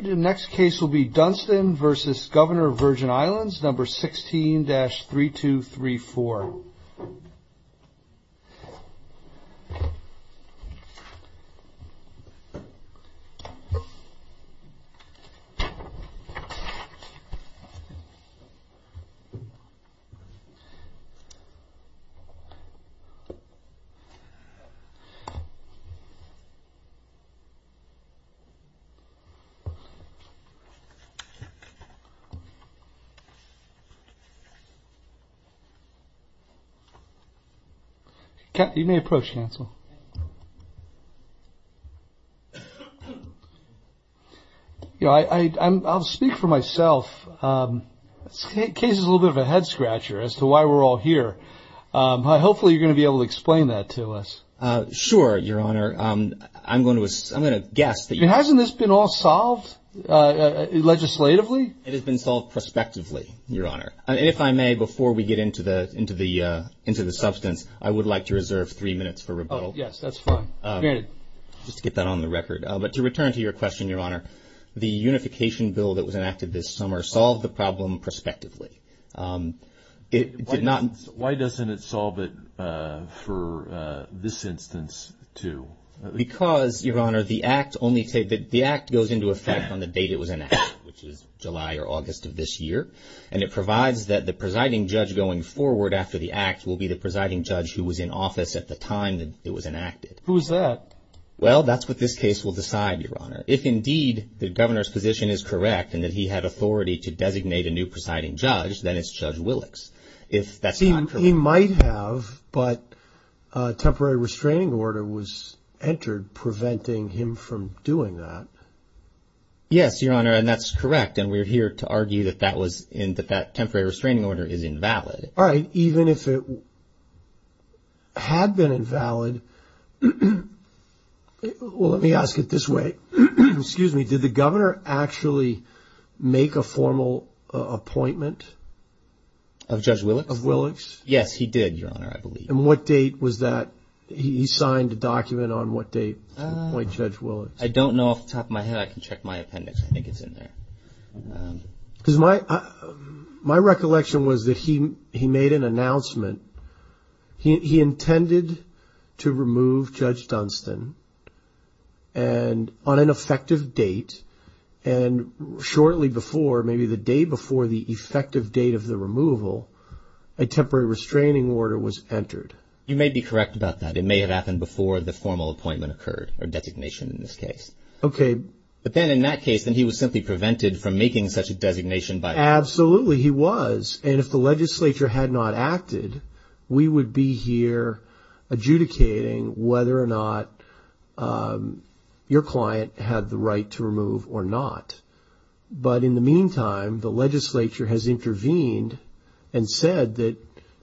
The next case will be Dunston v. Governor of Virgin Islands, No. 16-3234. I'll speak for myself. This case is a little bit of a head-scratcher as to why we're all here. Hopefully, you're going to be able to explain that to us. Sure, Your Honor. I'm going to guess that you... Hasn't this been all solved legislatively? It has been solved prospectively, Your Honor. If I may, before we get into the substance, I would like to reserve three minutes for rebuttal. Yes, that's fine. Granted. Just to get that on the record. But to return to your question, Your Honor, the unification bill that was enacted this summer solved the problem prospectively. Why doesn't it solve it for this instance, too? Because, Your Honor, the act goes into effect on the date it was enacted, which is July or August of this year. And it provides that the presiding judge going forward after the act will be the presiding judge who was in office at the time that it was enacted. Who's that? Well, that's what this case will decide, Your Honor. If indeed the governor's position is it's Judge Willick's. If that's not true... He might have, but a temporary restraining order was entered preventing him from doing that. Yes, Your Honor. And that's correct. And we're here to argue that that was... In the fact temporary restraining order is invalid. All right. Even if it had been invalid... Well, let me ask it this way. Excuse me. Did the governor actually make a formal appointment? Of Judge Willick's? Of Willick's? Yes, he did, Your Honor, I believe. And what date was that? He signed a document on what date to appoint Judge Willick's? I don't know off the top of my head. I can check my appendix. I think it's in there. My recollection was that he made an announcement. He intended to remove Judge Dunstan on an effective date. And shortly before, maybe the day before the effective date of the removal, a temporary restraining order was entered. You may be correct about that. It may have happened before the formal appointment occurred or designation in this case. Okay. But then in that case, then he was simply prevented from making such a designation by... Absolutely, he was. And if the legislature had not acted, we would be here adjudicating whether or not your client had the right to remove or not. But in the meantime, the legislature has intervened and said that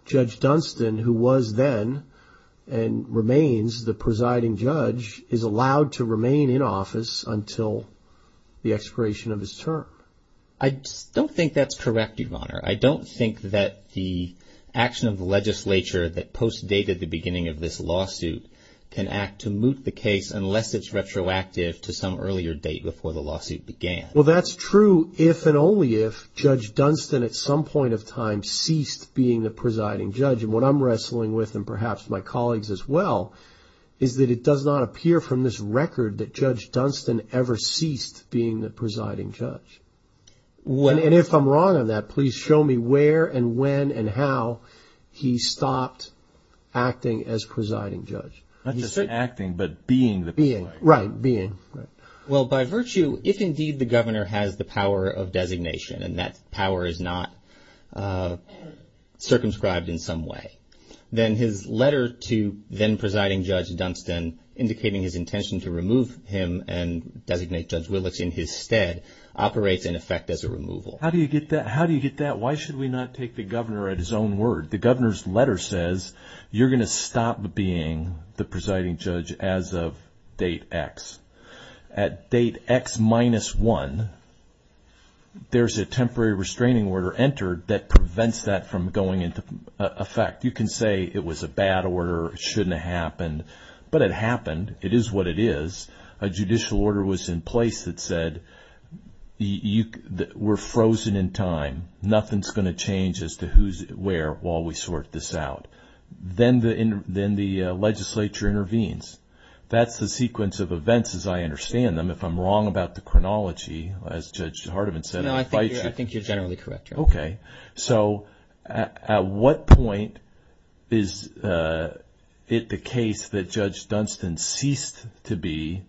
Judge Dunstan, who was then and remains the presiding judge, is allowed to remain in office until the expiration of his term. I don't think that's correct, Your Honor. I don't think that the action of the legislature that post-dated the beginning of this lawsuit can act to moot the case unless it's retroactive to some earlier date before the lawsuit began. Well, that's true if and only if Judge Dunstan at some point of time ceased being the presiding judge. And what I'm wrestling with, and perhaps my colleagues as well, is that it does not appear from this record that Judge Dunstan ever ceased being the presiding judge. And if I'm wrong on that, please show me where and when and how he stopped acting as presiding judge. Not just acting, but being the presiding judge. Right, being. Well, by virtue, if indeed the governor has the power of designation, and that power is not circumscribed in some way, then his letter to then presiding Judge Dunstan indicating his intention to remove him and designate Judge Willicks in his stead operates in effect as a removal. How do you get that? Why should we not take the governor at his own word? The governor's letter says you're going to stop being the presiding judge as of date X. At date X minus one, there's a temporary restraining order entered that prevents that from going into effect. You can say it was a bad order, it shouldn't have happened, but it happened. It is what it is. A judicial order was in place that said, we're frozen in time, nothing's going to change as to who's where while we sort this out. Then the legislature intervenes. That's the sequence of events as I understand them. If I'm wrong about the chronology, as Judge Hardiman said. No, I think you're generally correct. So at what point is it the case that Judge Dunstan ceased to be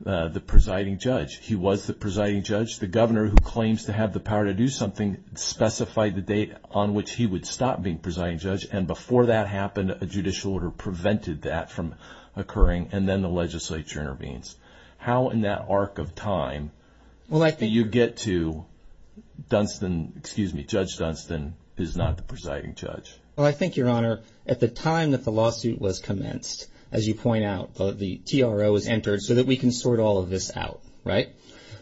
the presiding judge? He was the presiding judge. The governor who claims to have the power to do something specified the date on which he would stop being presiding judge. Before that happened, a judicial order prevented that from occurring. Then the legislature intervenes. How in that arc of time do you get to Judge Dunstan is not the presiding judge? Well, I think, Your Honor, at the time that the lawsuit was commenced, as you point out, the TRO was entered so that we can sort all of this out.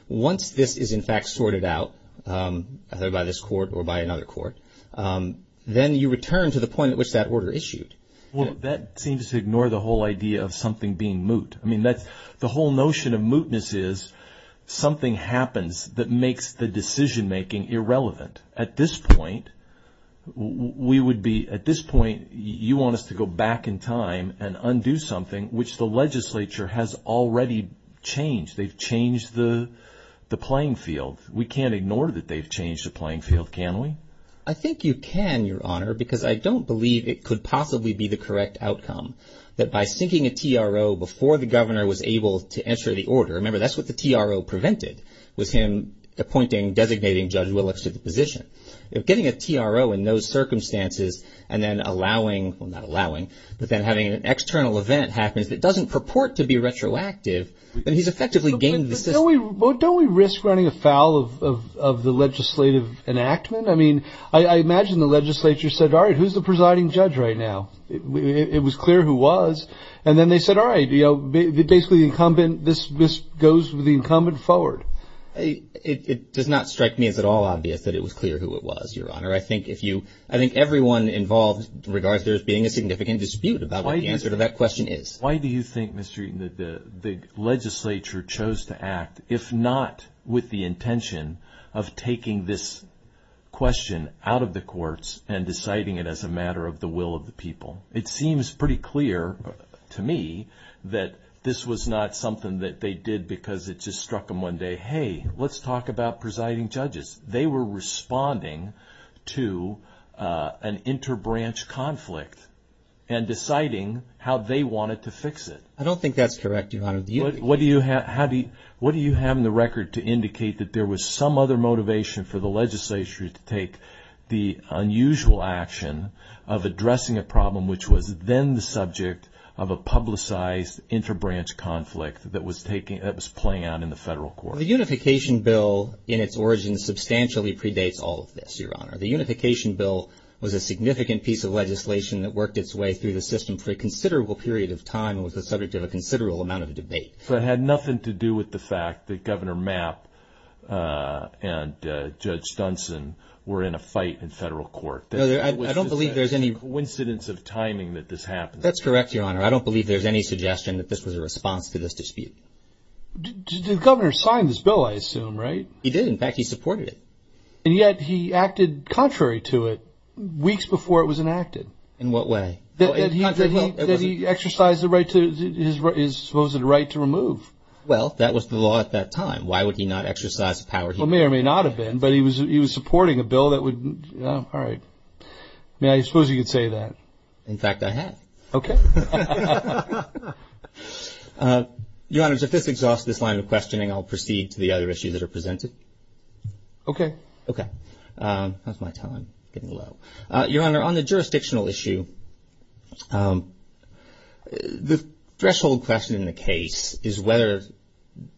Once this is in fact sorted out, either by this court or by another court, then you return to the point at which that order issued. Well, that seems to ignore the whole idea of something being moot. The whole notion of something happens that makes the decision-making irrelevant. At this point, you want us to go back in time and undo something which the legislature has already changed. They've changed the playing field. We can't ignore that they've changed the playing field, can we? I think you can, Your Honor, because I don't believe it could possibly be the correct outcome that by sinking a TRO before the governor was able to enter the order. Remember, that's what the TRO prevented, was him appointing, designating Judge Willicks to the position. Getting a TRO in those circumstances and then having an external event happens that doesn't purport to be retroactive, then he's effectively gained the system. Don't we risk running afoul of the legislative enactment? I imagine the legislature said, all right, who's the presiding judge right now? It was clear who was. Then they said, basically, this goes with the incumbent forward. It does not strike me as at all obvious that it was clear who it was, Your Honor. I think everyone involved regards there as being a significant dispute about what the answer to that question is. Why do you think, Mr. Eaton, that the legislature chose to act, if not with the intention of taking this question out of the courts and deciding it as a matter of the will of the people? It seems pretty clear to me that this was not something that they did because it just struck them one day, hey, let's talk about presiding judges. They were responding to an interbranch conflict and deciding how they wanted to fix it. I don't think that's correct, Your Honor. What do you have in the record to indicate that there was some other motivation for the subject of a publicized interbranch conflict that was playing out in the federal court? The unification bill in its origin substantially predates all of this, Your Honor. The unification bill was a significant piece of legislation that worked its way through the system for a considerable period of time and was the subject of a considerable amount of debate. It had nothing to do with the fact that Governor Mapp and Judge Dunson were in a fight in federal court. I don't believe there's any coincidence of timing that this happened. That's correct, Your Honor. I don't believe there's any suggestion that this was a response to this dispute. The governor signed this bill, I assume, right? He did. In fact, he supported it. And yet he acted contrary to it weeks before it was enacted. In what way? That he exercised his supposed right to remove. Well, that was the law at that time. Why would he not exercise the power? Well, it may or may not have been, but he was supporting a bill that would... All right. I mean, I suppose you could say that. In fact, I had. Okay. Your Honor, if this exhausts this line of questioning, I'll proceed to the other issues that are presented. Okay. Okay. How's my time getting low? Your Honor, on the jurisdictional issue, the threshold question in the case is whether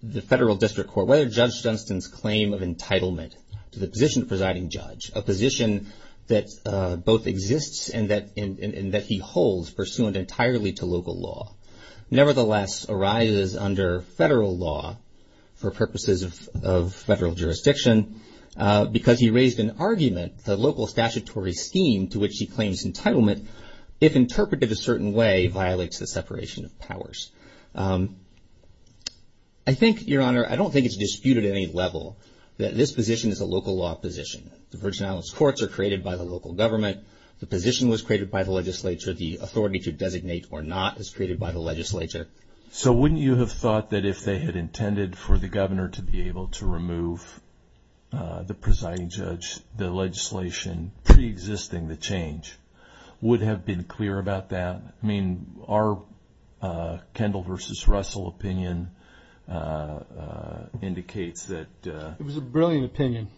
the federal district court, whether Judge Dunstan's claim of entitlement to the position of presiding judge, a position that both exists and that he holds pursuant entirely to local law, nevertheless arises under federal law for purposes of federal jurisdiction, because he raised an argument, the local statutory scheme to which he claims entitlement, if interpreted a certain way, violates the separation of powers. I think, Your Honor, I don't think it's disputed at any level that this position is a local law position. The Virgin Islands courts are created by the local government. The position was created by the legislature. The authority to designate or not is created by the legislature. So wouldn't you have thought that if they had intended for the governor to be able to remove the presiding judge, the legislation preexisting the change would have been clear about that? I mean, our Kendall versus Russell opinion indicates that... It was a brilliant opinion.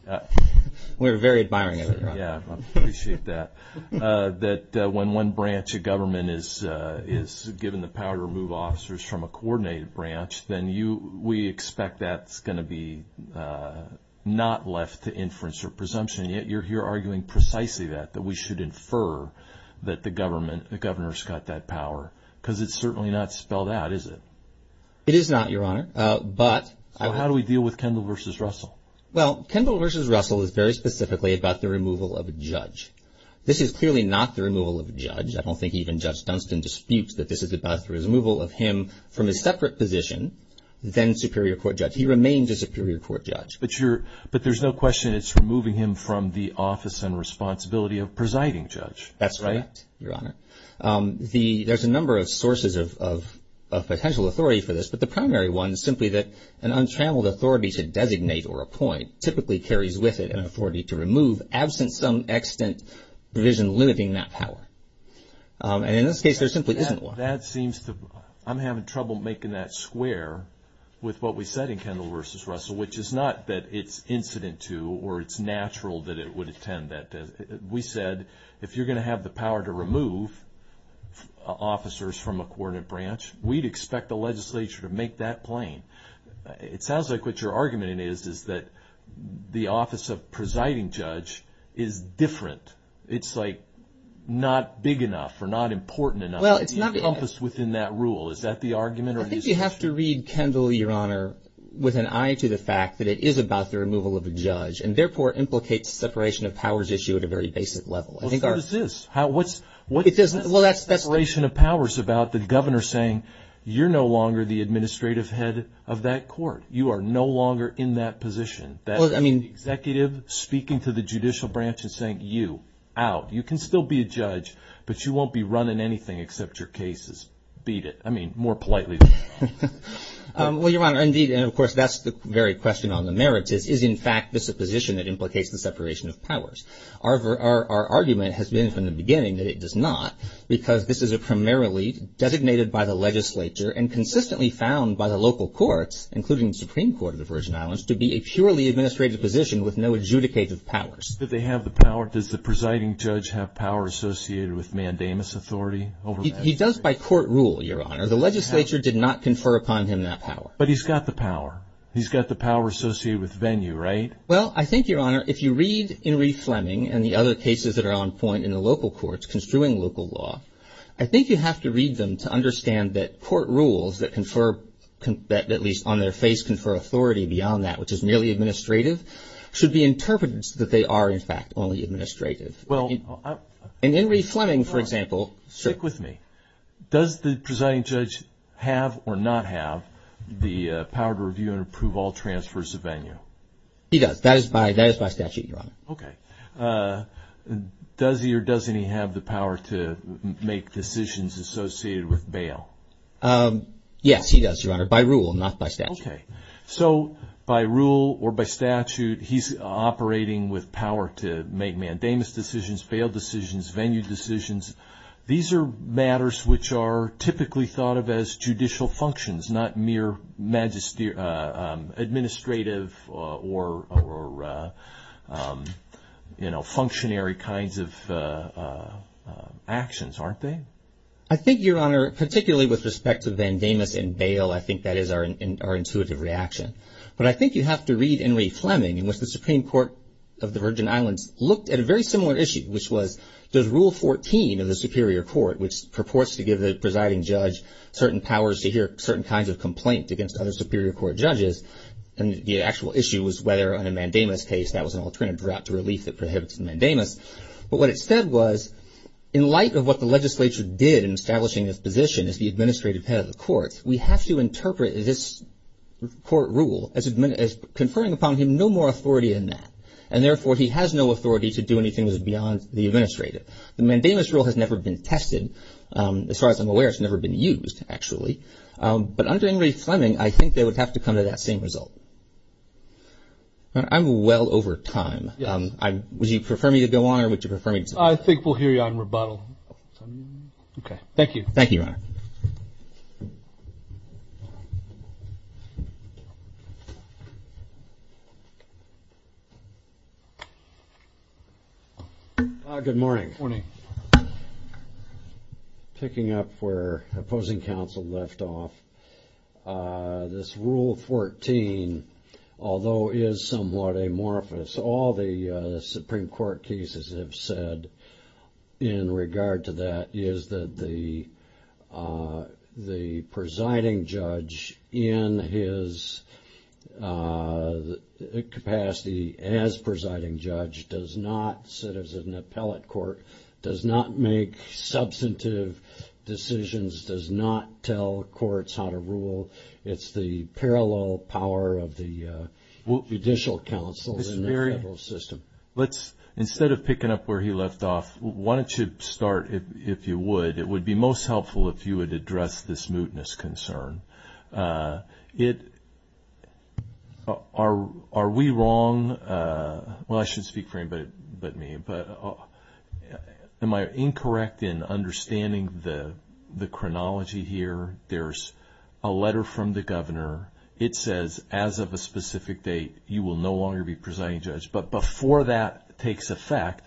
We're very admiring of it, Your Honor. Yeah, I appreciate that. That when one branch of government is given the power to remove officers from a coordinated branch, then we expect that's going to be not left to inference or presumption. Yet you're here arguing precisely that, that we should infer that the government, the governor's got that power because it's certainly not spelled out, is it? It is not, Your Honor. But how do we deal with Kendall versus Russell? Well, Kendall versus Russell is very specifically about the removal of a judge. This is clearly not the removal of a judge. I don't think even Judge Dunstan disputes that this is about the removal of him from a separate position than superior court judge. He remains a superior court judge. But you're, but there's no question it's removing him from the office and responsibility of presiding judge. That's right, Your Honor. There's a number of sources of potential authority for this, but the primary one is simply that an untrammeled authority to designate or appoint typically carries with it an authority to remove absent some extant provision limiting that power. And in this case, there simply isn't one. That seems to, I'm having trouble making that square with what we said in Kendall versus Russell, which is not that it's incident to or it's natural that it would attend that. We said, if you're going to have the power to remove officers from a coordinate branch, we'd expect the legislature to make that plain. It sounds like what your argument is, is that the office of presiding judge is different. It's like not big enough or not important enough. Well, it's not the compass within that rule. Is that the argument? I think you have to read Kendall, Your Honor, with an eye to the fact that it is about the very basic level. Well, what is this? Well, that's the separation of powers about the governor saying, you're no longer the administrative head of that court. You are no longer in that position. That's the executive speaking to the judicial branch and saying, you, out. You can still be a judge, but you won't be running anything except your cases. Beat it. I mean, more politely. Well, Your Honor, indeed. And of course, that's the very question on the merits is, is in fact this a position that implicates the separation of powers? Our argument has been from the beginning that it does not, because this is a primarily designated by the legislature and consistently found by the local courts, including the Supreme Court of the Virgin Islands, to be a purely administrative position with no adjudicative powers. Do they have the power? Does the presiding judge have power associated with mandamus authority over that? He does by court rule, Your Honor. The legislature did not confer upon him that power. But he's got the power. He's got the power associated with venue, right? Well, I think, Your Honor, if you read Henry Fleming and the other cases that are on point in the local courts construing local law, I think you have to read them to understand that court rules that confer that at least on their face confer authority beyond that, which is merely administrative, should be interpreted that they are, in fact, only administrative. Well, I. And Henry Fleming, for example. Stick with me. Does the presiding judge have or not have the power to review and approve all transfers of venue? He does. That is by statute, Your Honor. Okay. Does he or doesn't he have the power to make decisions associated with bail? Yes, he does, Your Honor, by rule, not by statute. Okay. So by rule or by statute, he's operating with power to make mandamus decisions, bail decisions, venue decisions. These are matters which are typically thought of as judicial functions, not mere administrative or, you know, functionary kinds of actions, aren't they? I think, Your Honor, particularly with respect to mandamus and bail, I think that is our intuitive reaction. But I think you have to read Henry Fleming, in which the Supreme Court of the Virgin Islands looked at a very similar issue, which was does rule 14 of the Superior Court, which purports to give the presiding judge certain powers to hear certain kinds of superior court judges, and the actual issue was whether on a mandamus case, that was an alternative route to relief that prohibits the mandamus. But what it said was, in light of what the legislature did in establishing this position as the administrative head of the courts, we have to interpret this court rule as conferring upon him no more authority in that. And therefore, he has no authority to do anything that is beyond the administrative. The mandamus rule has never been tested. As far as I'm aware, it's never been used, actually. But under Henry Fleming, I think they would have to come to that same result. I'm well over time. Would you prefer me to go on, or would you prefer me to stop? I think we'll hear you on rebuttal. Okay. Thank you. Thank you, Your Honor. Good morning. Morning. Picking up where opposing counsel left off, this Rule 14, although is somewhat amorphous, all the Supreme Court cases have said in regard to that is that the presiding judge in his capacity as presiding judge does not sit as an appellate court, does not make substantive decisions, does not tell courts how to rule. It's the parallel power of the judicial counsel in the federal system. Instead of picking up where he left off, why don't you start, if you would. It would be most helpful if you would address this mootness concern. Are we wrong? Well, I shouldn't speak for anybody but me, but am I incorrect in understanding the chronology here? There's a letter from the governor. It says, as of a specific date, you will no longer be presiding judge. But before that takes effect,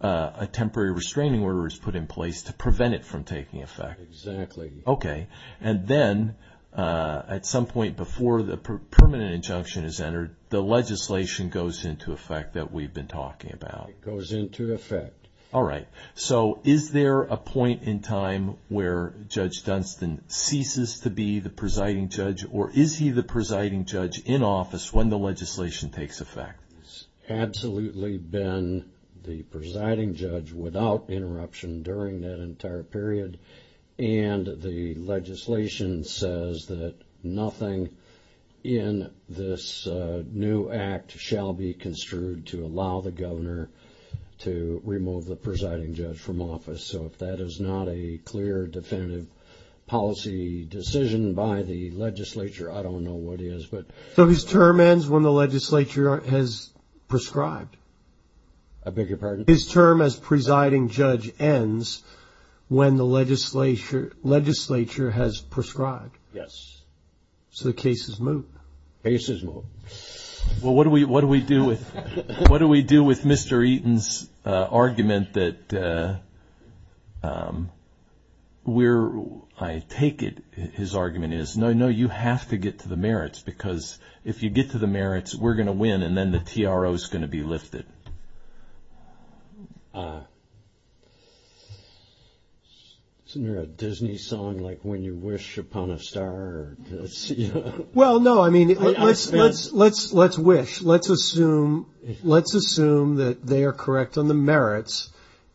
a temporary restraining order is put in place to prevent it from taking effect. Exactly. Okay. And then at some point before the permanent injunction is entered, the legislation goes into effect that we've been talking about. It goes into effect. All right. So is there a point in time where Judge Dunstan ceases to be the presiding judge or is he the presiding judge in office when the legislation takes effect? He's absolutely been the presiding judge without interruption during that entire period. And the legislation says that nothing in this new act shall be construed to allow the governor to remove the presiding judge from office. So if that is not a clear definitive policy decision by the legislature, I don't know what is. But so his term ends when the legislature has prescribed? I beg your pardon? His term as presiding judge ends when the legislature has prescribed? Yes. So the case is moved? Case is moved. Well, what do we do with Mr. Eaton's argument that we're, I take it, his argument is, no, no, you have to get to the merits because if you get to the merits, we're going to win and then the TRO is going to be lifted. Isn't there a Disney song like when you wish upon a star? Well, no, I mean, let's wish. Let's assume that they are correct on the merits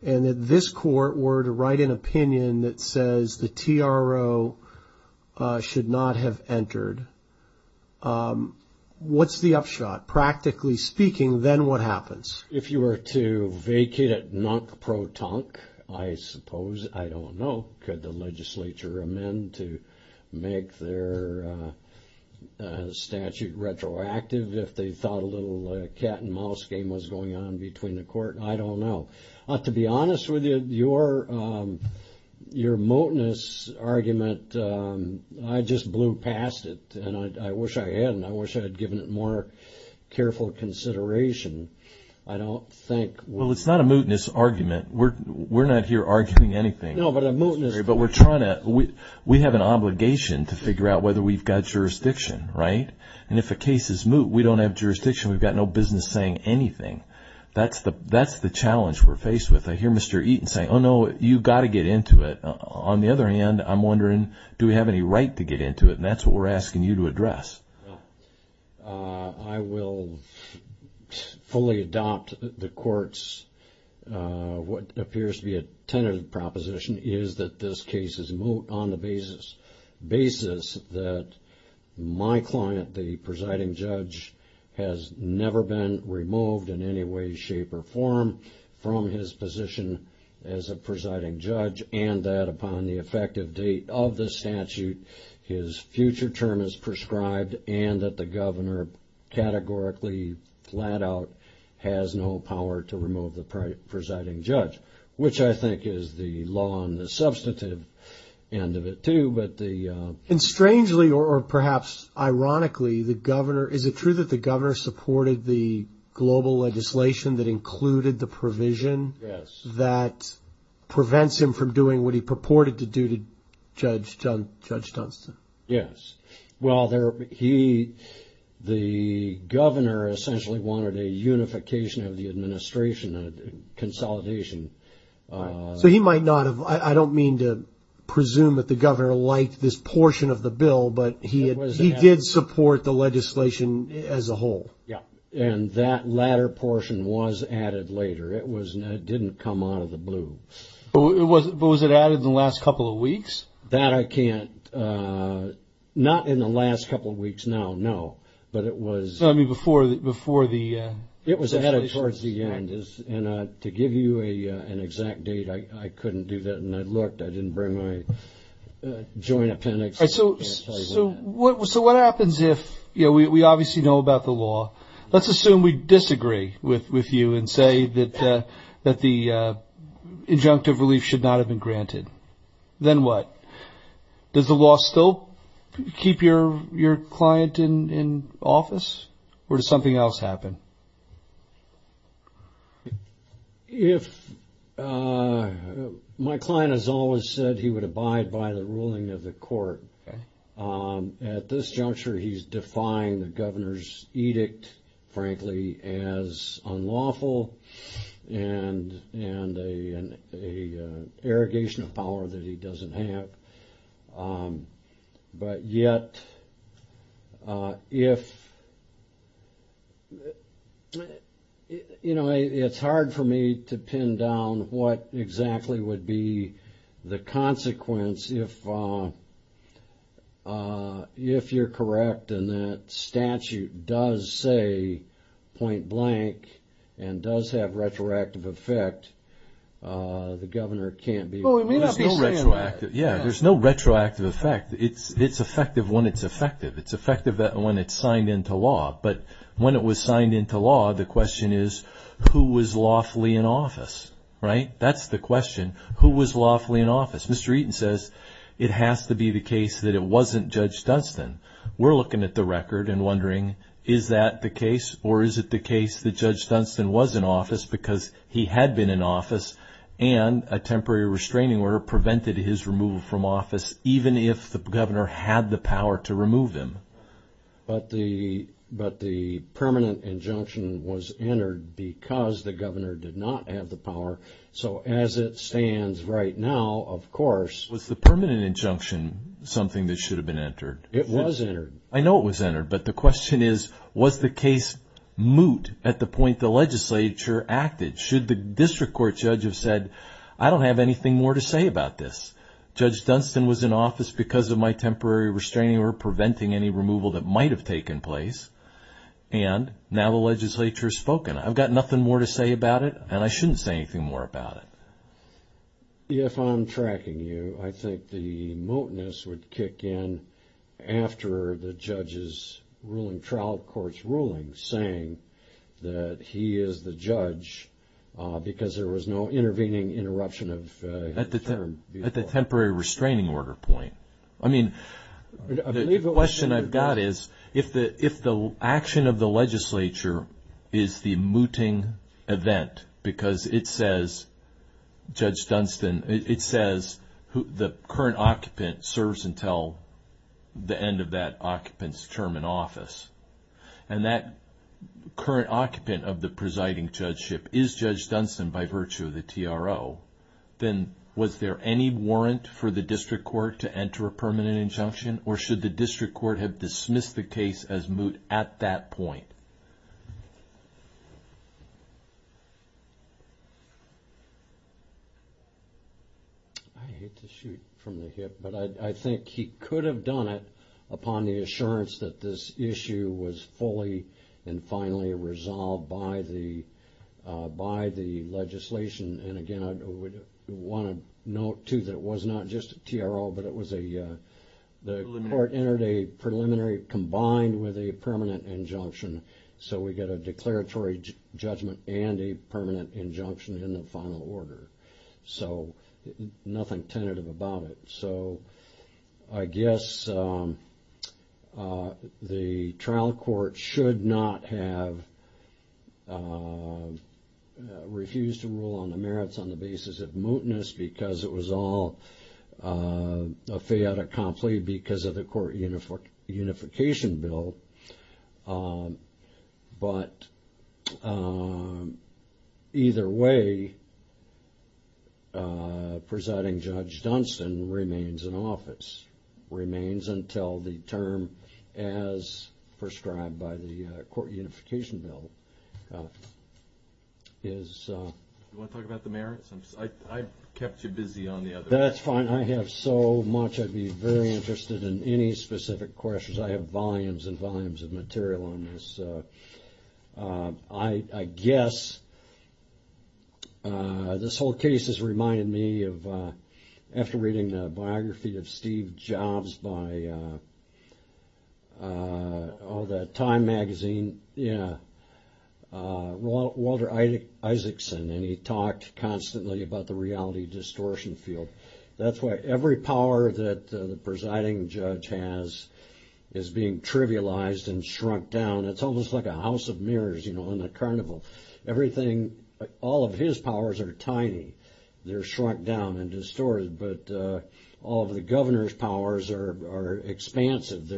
and that this court were to write an opinion that says the TRO should not have entered. What's the upshot? Practically speaking, then what happens? If you were to vacate it non-pro-tonk, I suppose, I don't know, could the legislature amend to make their statute retroactive if they thought a little cat and mouse game was going on between the court? I don't know. To be honest with you, your moteness argument, I just blew past it and I wish I hadn't. I wish I had given it more careful consideration. I don't think... Well, it's not a mootness argument. We're not here arguing anything. No, but a mootness... But we're trying to, we have an obligation to figure out whether we've got jurisdiction, right? And if a case is moot, we don't have jurisdiction. We've got no business saying anything. That's the challenge we're faced with. I hear Mr. Eaton say, oh, no, you've got to get into it. On the other hand, I'm wondering, do we have any right to get into it? And that's what we're asking you to address. Well, I will fully adopt the court's, what appears to be a tentative proposition, is that this case is moot on the basis that my client, the presiding judge, has never been removed in any way, shape, or form from his position as a presiding judge and that upon the effective date of the statute, his future term is prescribed and that the governor categorically, flat out, has no power to remove the presiding judge, which I think is the law on the substantive end of it too, but the... And strangely, or perhaps ironically, the governor, is it true that the governor supported the global legislation that included the provision that prevents him from doing what he purported to do to Judge Dunstan? Yes. Well, the governor essentially wanted a unification of the administration, a consolidation. So he might not have, I don't mean to presume that the governor liked this portion of the bill, but he did support the legislation as a whole. Yeah. And that latter portion was added later. It didn't come out of the blue. But was it added in the last couple of weeks? That I can't... Not in the last couple of weeks now, no. But it was... So, I mean, before the... It was added towards the end. And to give you an exact date, I couldn't do that and I looked. I didn't bring my joint appendix. All right, so what happens if... You know, we obviously know about the law. Let's assume we disagree with you and say that the injunctive relief should not have been granted. Then what? Does the law still keep your client in office or does something else happen? My client has always said he would abide by the ruling of the court. At this juncture, he's defying the governor's edict, frankly, as unlawful and an irrigation of power that he doesn't have. But yet, if... You know, it's hard for me to pin down what exactly would be the consequence if you're correct and that statute does say point blank and does have retroactive effect. The governor can't be... Well, it may not be... Yeah, there's no retroactive effect. It's effective when it's effective. It's effective when it's signed into law. But when it was signed into law, the question is who was lawfully in office, right? That's the question. Who was lawfully in office? Mr. Eaton says it has to be the case that it wasn't Judge Dunstan. We're looking at the record and wondering, is that the case or is it the case that Judge Dunstan was in office because he had been in office and a temporary restraining order prevented his removal from office, even if the governor had the power to remove him? But the permanent injunction was entered because the governor did not have the power. So as it stands right now, of course... Was the permanent injunction something that should have been entered? It was entered. I know it was entered. But the question is, was the case moot at the point the legislature acted? Should the district court judge have said, I don't have anything more to say about this. Judge Dunstan was in office because of my temporary restraining or preventing any removal that might have taken place. And now the legislature has spoken. I've got nothing more to say about it. And I shouldn't say anything more about it. If I'm tracking you, I think the mootness would kick in after the judge's ruling, trial court's ruling, saying that he is the judge because there was no intervening interruption of... At the temporary restraining order point. I mean, the question I've got is, if the action of the legislature is the mooting event because it says, Judge Dunstan, it says the current occupant serves until the end of that occupant's term in office. And that current occupant of the presiding judgeship is Judge Dunstan by virtue of the TRO. Then was there any warrant for the district court to enter a permanent injunction? Or should the district court have dismissed the case as moot at that point? I hate to shoot from the hip, but I think he could have done it upon the assurance that this issue was fully and finally resolved by the legislation. And again, I would want to note too, that it was not just a TRO, but it was a... The court entered a preliminary combined with a permanent injunction. So we get a declaratory judgment and a permanent injunction in the final order. So nothing tentative about it. So I guess the trial court should not have refused to rule on the merits on the basis of mootness because it was all a fait accompli because of the court unification bill. But either way, presiding Judge Dunstan remains in office, remains until the term as prescribed by the court unification bill is... Do you want to talk about the merits? I kept you busy on the other... That's fine. I have so much. I'd be very interested in any specific questions. I have volumes and volumes of material on this. I guess this whole case has reminded me of... After reading the biography of Steve Jobs by Time magazine, Walter Isaacson, and he talked constantly about the reality distortion field. That's why every power that the presiding judge has is being trivialized and shrunk down. It's almost like a house of mirrors in the carnival. All of his powers are tiny. They're shrunk down and distorted. But all of the governor's powers are expansive.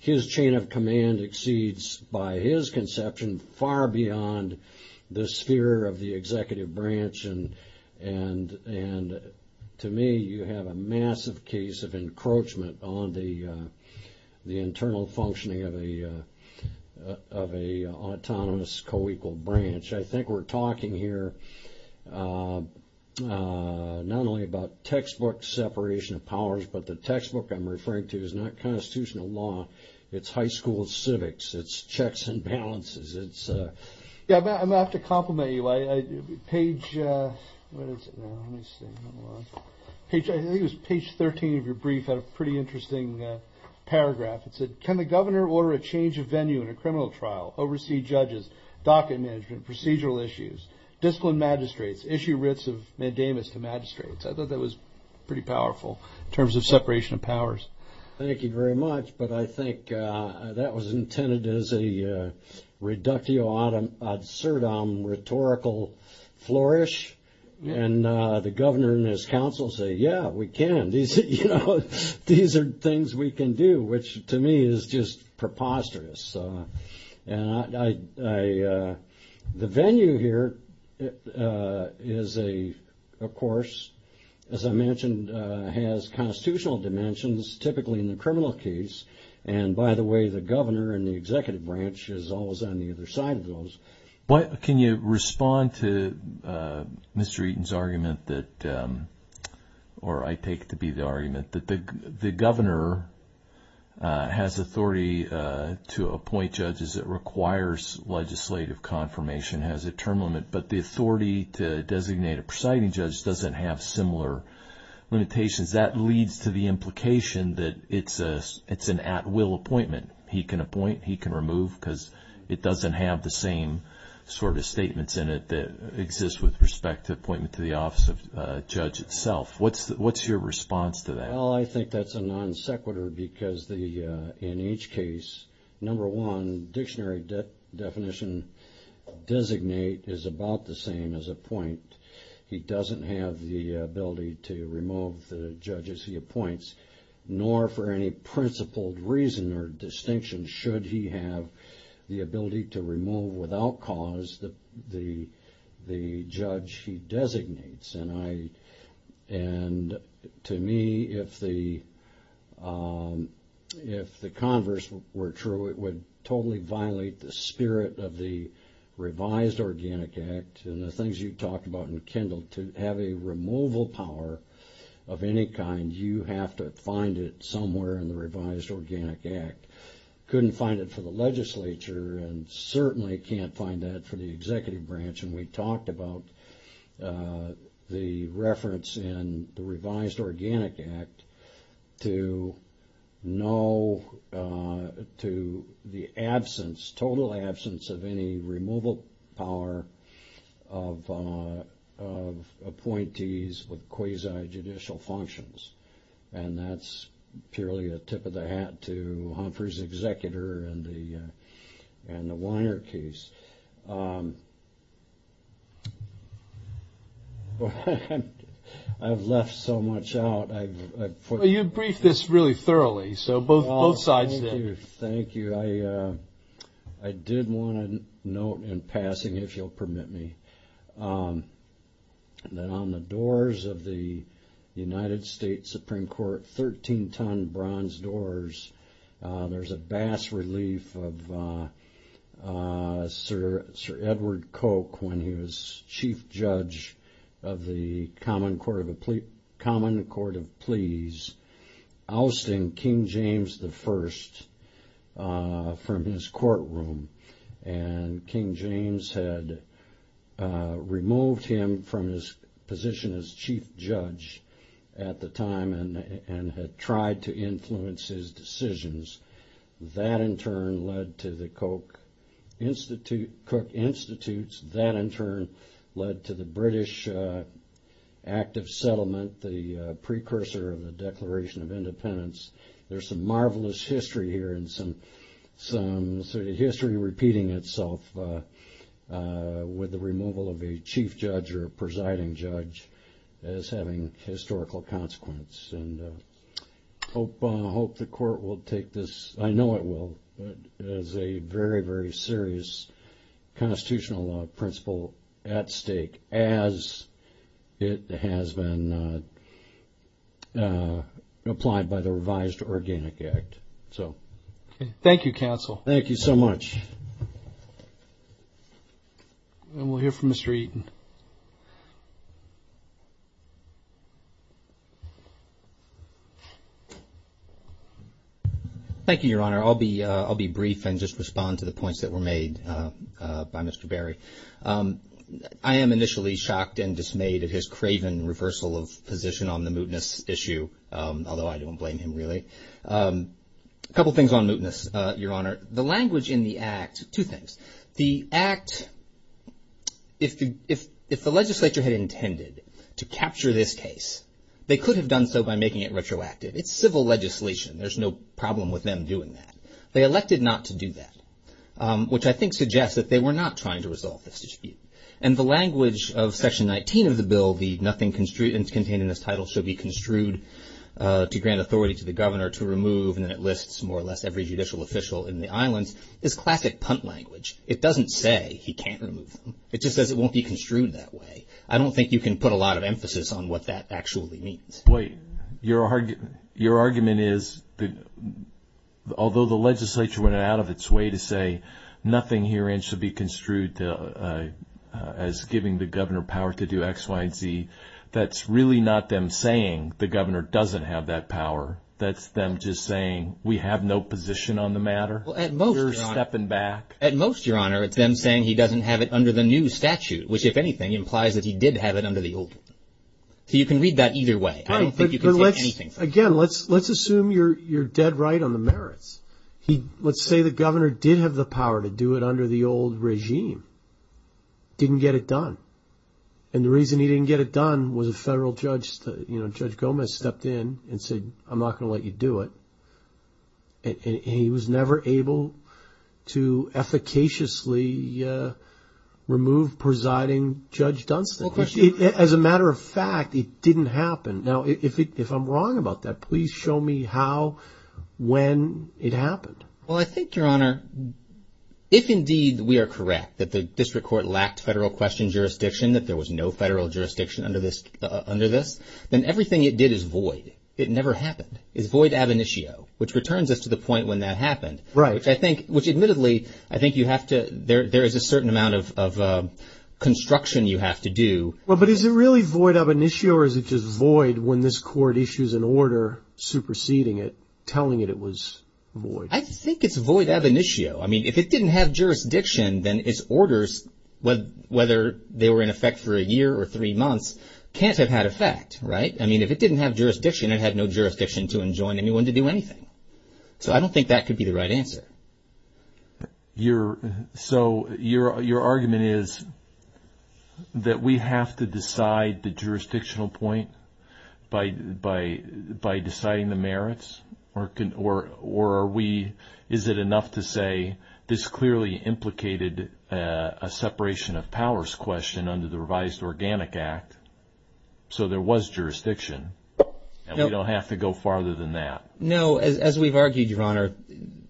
His chain of command exceeds by his conception far beyond the sphere of the executive branch. And to me, you have a massive case of encroachment on the internal functioning of an autonomous co-equal branch. I think we're talking here not only about textbook separation of powers, but the textbook I'm referring to is not constitutional law. It's high school civics. It's checks and balances. I'm going to have to compliment you. I think it was page 13 of your brief had a pretty interesting paragraph. It said, can the governor order a change of venue in a criminal trial, oversee judges, docket management, procedural issues, discipline magistrates, issue writs of mandamus to magistrates. I thought that was pretty powerful in terms of separation of powers. Thank you very much. But I think that was intended as a reductio ad absurdum rhetorical flourish. And the governor and his counsel say, yeah, we can. These are things we can do, which to me is just preposterous. The venue here is, of course, as I mentioned, has constitutional dimensions, typically in the criminal case. And by the way, the governor and the executive branch is always on the other side of those. Can you respond to Mr. Eaton's argument that, or I take to be the argument that the governor has authority to appoint judges that requires legislative confirmation, has a term limit, but the authority to designate a presiding judge doesn't have similar. Limitations that leads to the implication that it's an at will appointment. He can appoint, he can remove because it doesn't have the same sort of statements in it that exists with respect to appointment to the office of judge itself. What's your response to that? Well, I think that's a non sequitur because in each case, number one, dictionary definition designate is about the same as appoint. He doesn't have the ability to remove the judges he appoints, nor for any principled reason or distinction should he have the ability to remove without cause the judge he designates. And to me, if the converse were true, it would totally violate the spirit of the talked about in Kendall to have a removal power of any kind. You have to find it somewhere in the revised organic act. Couldn't find it for the legislature and certainly can't find that for the executive branch. And we talked about the reference in the revised organic act to no, to the absence, total absence of any removal power of appointees with quasi judicial functions. And that's purely a tip of the hat to Humphrey's executor and the Weiner case. I've left so much out. You briefed this really thoroughly. So both sides did. Thank you. I did want to note in passing, if you'll permit me, that on the doors of the United States Supreme Court, 13 ton bronze doors, there's a bass relief of Sir Edward Coke when he was chief judge of the Common Court of Pleas, ousting King James I from his courtroom. And King James had removed him from his position as chief judge at the time and had tried to influence his decisions. That in turn led to the Coke Institute, that in turn led to the British active settlement, the precursor of the Declaration of Independence. There's some marvelous history here and some history repeating itself with the removal of a chief judge or presiding judge as having historical consequence. And I hope the court will take this, I know it will, as a very, very serious constitutional principle at stake as it has been applied by the revised Organic Act. Thank you, counsel. Thank you so much. And we'll hear from Mr. Eaton. Thank you, Your Honor. I'll be brief and just respond to the points that were made by Mr. Berry. I am initially shocked and dismayed at his craven reversal of position on the mootness issue, although I don't blame him really. A couple things on mootness, Your Honor. The language in the act, two things. The act, if the legislature had intended to capture this case, they could have done so by making it retroactive. It's civil legislation. There's no problem with them doing that. They elected not to do that, which I think suggests that they were not trying to resolve this dispute. And the language of Section 19 of the bill, the nothing contained in this title shall be construed to grant authority to the governor to remove, and it lists more or less every judicial official in the islands, is classic punt language. It doesn't say he can't remove them. It just says it won't be construed that way. I don't think you can put a lot of emphasis on what that actually means. Your argument is that although the legislature went out of its way to say nothing here and should be construed as giving the governor power to do X, Y, and Z, that's really not them saying the governor doesn't have that power. That's them just saying we have no position on the matter. At most, Your Honor, it's them saying he doesn't have it under the new statute, which, if anything, implies that he did have it under the old one. You can read that either way. You can take anything from it. Again, let's assume you're dead right on the merits. Let's say the governor did have the power to do it under the old regime, didn't get it done, and the reason he didn't get it done was a federal judge, Judge Gomez, stepped in and said, I'm not going to let you do it, and he was never able to efficaciously remove presiding Judge Dunstan. As a matter of fact, it didn't happen. Now, if I'm wrong about that, please show me how, when it happened. Well, I think, Your Honor, if indeed we are correct that the district court lacked federal question jurisdiction, that there was no federal jurisdiction under this, then everything it did is void. It never happened. It's void ab initio, which returns us to the point when that happened, which admittedly, I think there is a certain amount of construction you have to do. But is it really void ab initio, or is it just void when this court issues an order superseding it, telling it it was void? I think it's void ab initio. I mean, if it didn't have jurisdiction, then its orders, whether they were in effect for a year or three months, can't have had effect, right? I mean, if it didn't have jurisdiction, it had no jurisdiction to enjoin anyone to do anything. So I don't think that could be the right answer. So your argument is that we have to decide the jurisdictional point by deciding the merits, or is it enough to say this clearly implicated a separation of powers question under the revised Organic Act, so there was jurisdiction, and we don't have to go farther than that? No, as we've argued, Your Honor,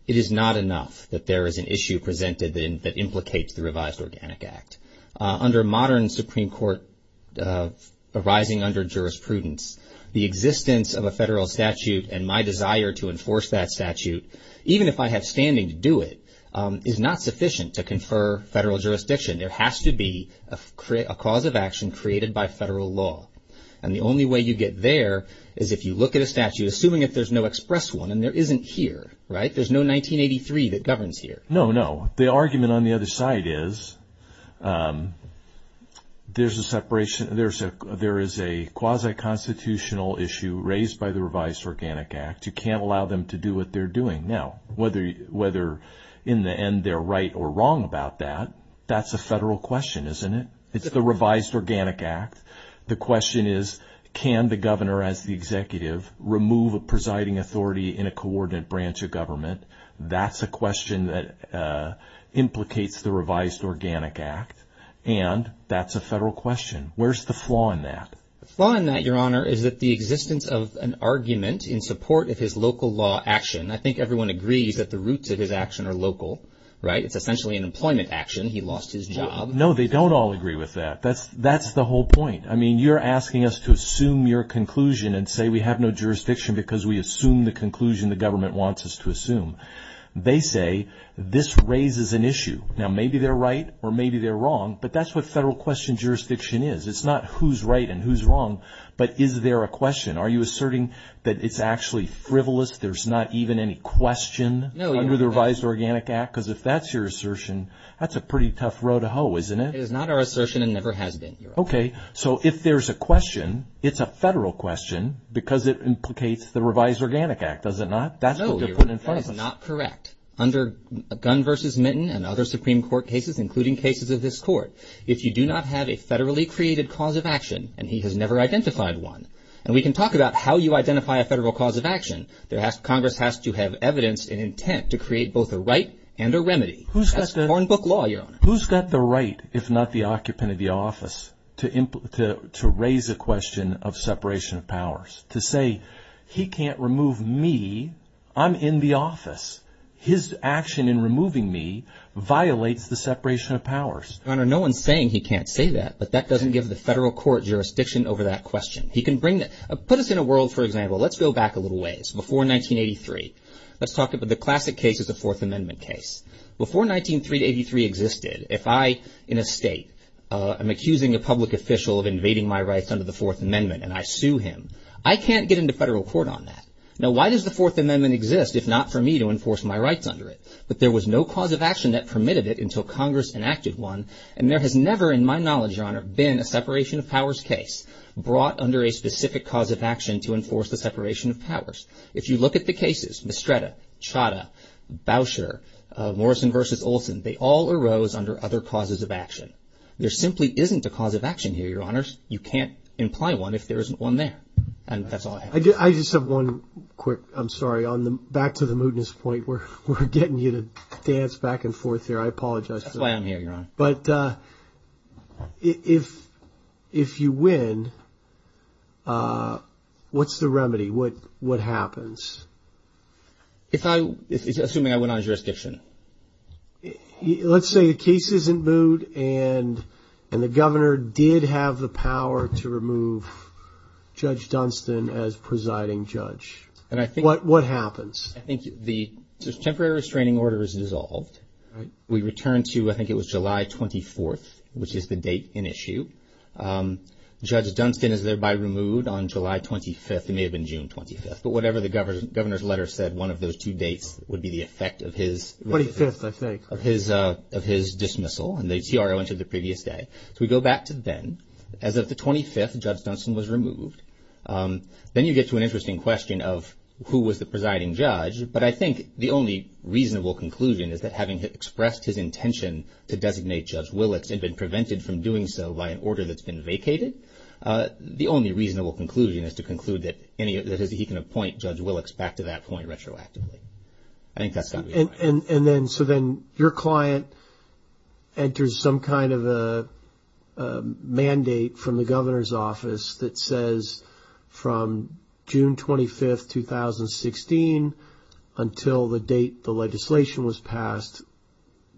it is not enough that there is an issue presented that implicates the revised Organic Act. Under modern Supreme Court arising under jurisprudence, the existence of a federal statute and my desire to enforce that statute, even if I have standing to do it, is not sufficient to confer federal jurisdiction. There has to be a cause of action created by federal law. And the only way you get there is if you look at a statute, assuming if there's no express one, and there isn't here, right? There's no 1983 that governs here. No, no. The argument on the other side is there is a quasi-constitutional issue raised by the revised Organic Act. You can't allow them to do what they're doing. Now, whether in the end they're right or wrong about that, that's a federal question, isn't it? It's the revised Organic Act. The question is, can the governor as the executive remove a presiding authority in a coordinate branch of government? That's a question that implicates the revised Organic Act. And that's a federal question. Where's the flaw in that? The flaw in that, Your Honor, is that the existence of an argument in support of his local law action, I think everyone agrees that the roots of his action are local, right? It's essentially an employment action. He lost his job. No, they don't all agree with that. That's the whole point. I mean, you're asking us to assume your conclusion and say we have no jurisdiction because we assume the conclusion the government wants us to assume. They say this raises an issue. Now, maybe they're right or maybe they're wrong, but that's what federal question jurisdiction is. It's not who's right and who's wrong, but is there a question? Are you asserting that it's actually frivolous, there's not even any question under the revised Organic Act? Because if that's your assertion, that's a pretty tough row to hoe, isn't it? It is not our assertion and never has been, Your Honor. Okay, so if there's a question, it's a federal question because it implicates the revised Organic Act, does it not? No, Your Honor, that is not correct. Under Gunn v. Minton and other Supreme Court cases, including cases of this Court, if you do not have a federally created cause of action, and he has never identified one, and we can talk about how you identify a federal cause of action, Congress has to have evidence and intent to create both a right and a remedy. That's foreign book law, Your Honor. Who's got the right, if not the occupant of the office, to raise a question of separation of powers? To say, he can't remove me, I'm in the office. His action in removing me violates the separation of powers. Your Honor, no one's saying he can't say that, but that doesn't give the federal court jurisdiction over that question. He can bring that. Put us in a world, for example, let's go back a little ways, before 1983. Let's talk about the classic case of the Fourth Amendment case. Before 1983 existed, if I, in a state, am accusing a public official of invading my rights under the Fourth Amendment, and I sue him, I can't get into federal court on that. Now, why does the Fourth Amendment exist, if not for me to enforce my rights under it? But there was no cause of action that permitted it until Congress enacted one, and there has never, in my knowledge, Your Honor, been a separation of powers case brought under a specific cause of action to enforce the separation of powers. If you look at the cases, Mistretta, Chadha, Boucher, Morrison versus Olson, they all arose under other causes of action. There simply isn't a cause of action here, Your Honors. You can't imply one if there isn't one there, and that's all I have. I just have one quick, I'm sorry, back to the mootness point where we're getting you to dance back and forth here. I apologize. That's why I'm here, Your Honor. But if you win, what's the remedy? What happens? If I, assuming I win on jurisdiction. Let's say the case isn't moot and the governor did have the power to remove Judge Dunstan as presiding judge. What happens? I think the temporary restraining order is dissolved. We return to, I think it was July 24th, which is the date in issue. Judge Dunstan is thereby removed on July 25th. It may have been June 25th, but whatever the governor's letter said, one of those two dates would be the effect of his dismissal, and the TRO entered the previous day. So we go back to then. As of the 25th, Judge Dunstan was removed. Then you get to an interesting question of who was the presiding judge, but I think the reasonable conclusion is that having expressed his intention to designate Judge Willicks had been prevented from doing so by an order that's been vacated. The only reasonable conclusion is to conclude that he can appoint Judge Willicks back to that point retroactively. I think that's got to be right. And then, so then your client enters some kind of a mandate from the governor's office that says from June 25th, 2016 until the date the legislation was passed,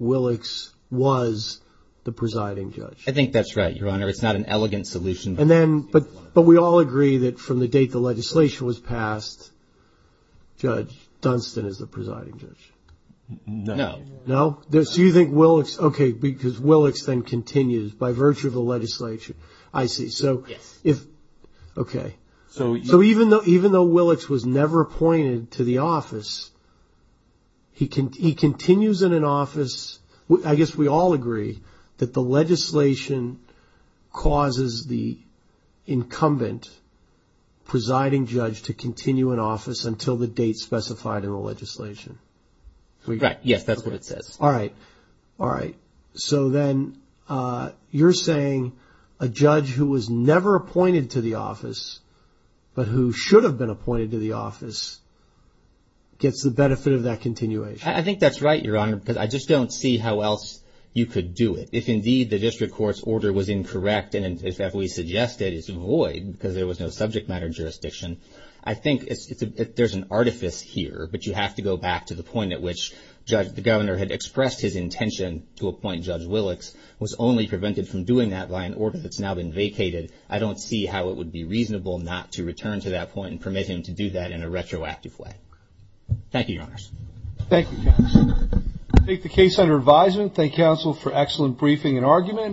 Willicks was the presiding judge. I think that's right, Your Honor. It's not an elegant solution. And then, but we all agree that from the date the legislation was passed, Judge Dunstan is the presiding judge. No. No? So you think Willicks, okay, because Willicks then continues by virtue of the legislation. I see. So if, okay. So even though Willicks was never appointed to the office, he continues in an office, I guess we all agree that the legislation causes the incumbent presiding judge to continue in office until the date specified in the legislation. Right. Yes. That's what it says. All right. All right. So then you're saying a judge who was never appointed to the office, but who should have been appointed to the office, gets the benefit of that continuation. I think that's right, Your Honor, because I just don't see how else you could do it. If indeed the district court's order was incorrect, and if we suggested it's void because there was no subject matter jurisdiction, I think there's an artifice here. But you have to go back to the point at which the governor had expressed his intention to Willicks was only prevented from doing that by an order that's now been vacated. I don't see how it would be reasonable not to return to that point and permit him to do that in a retroactive way. Thank you, Your Honors. Thank you. Take the case under advisement. Thank counsel for excellent briefing and argument.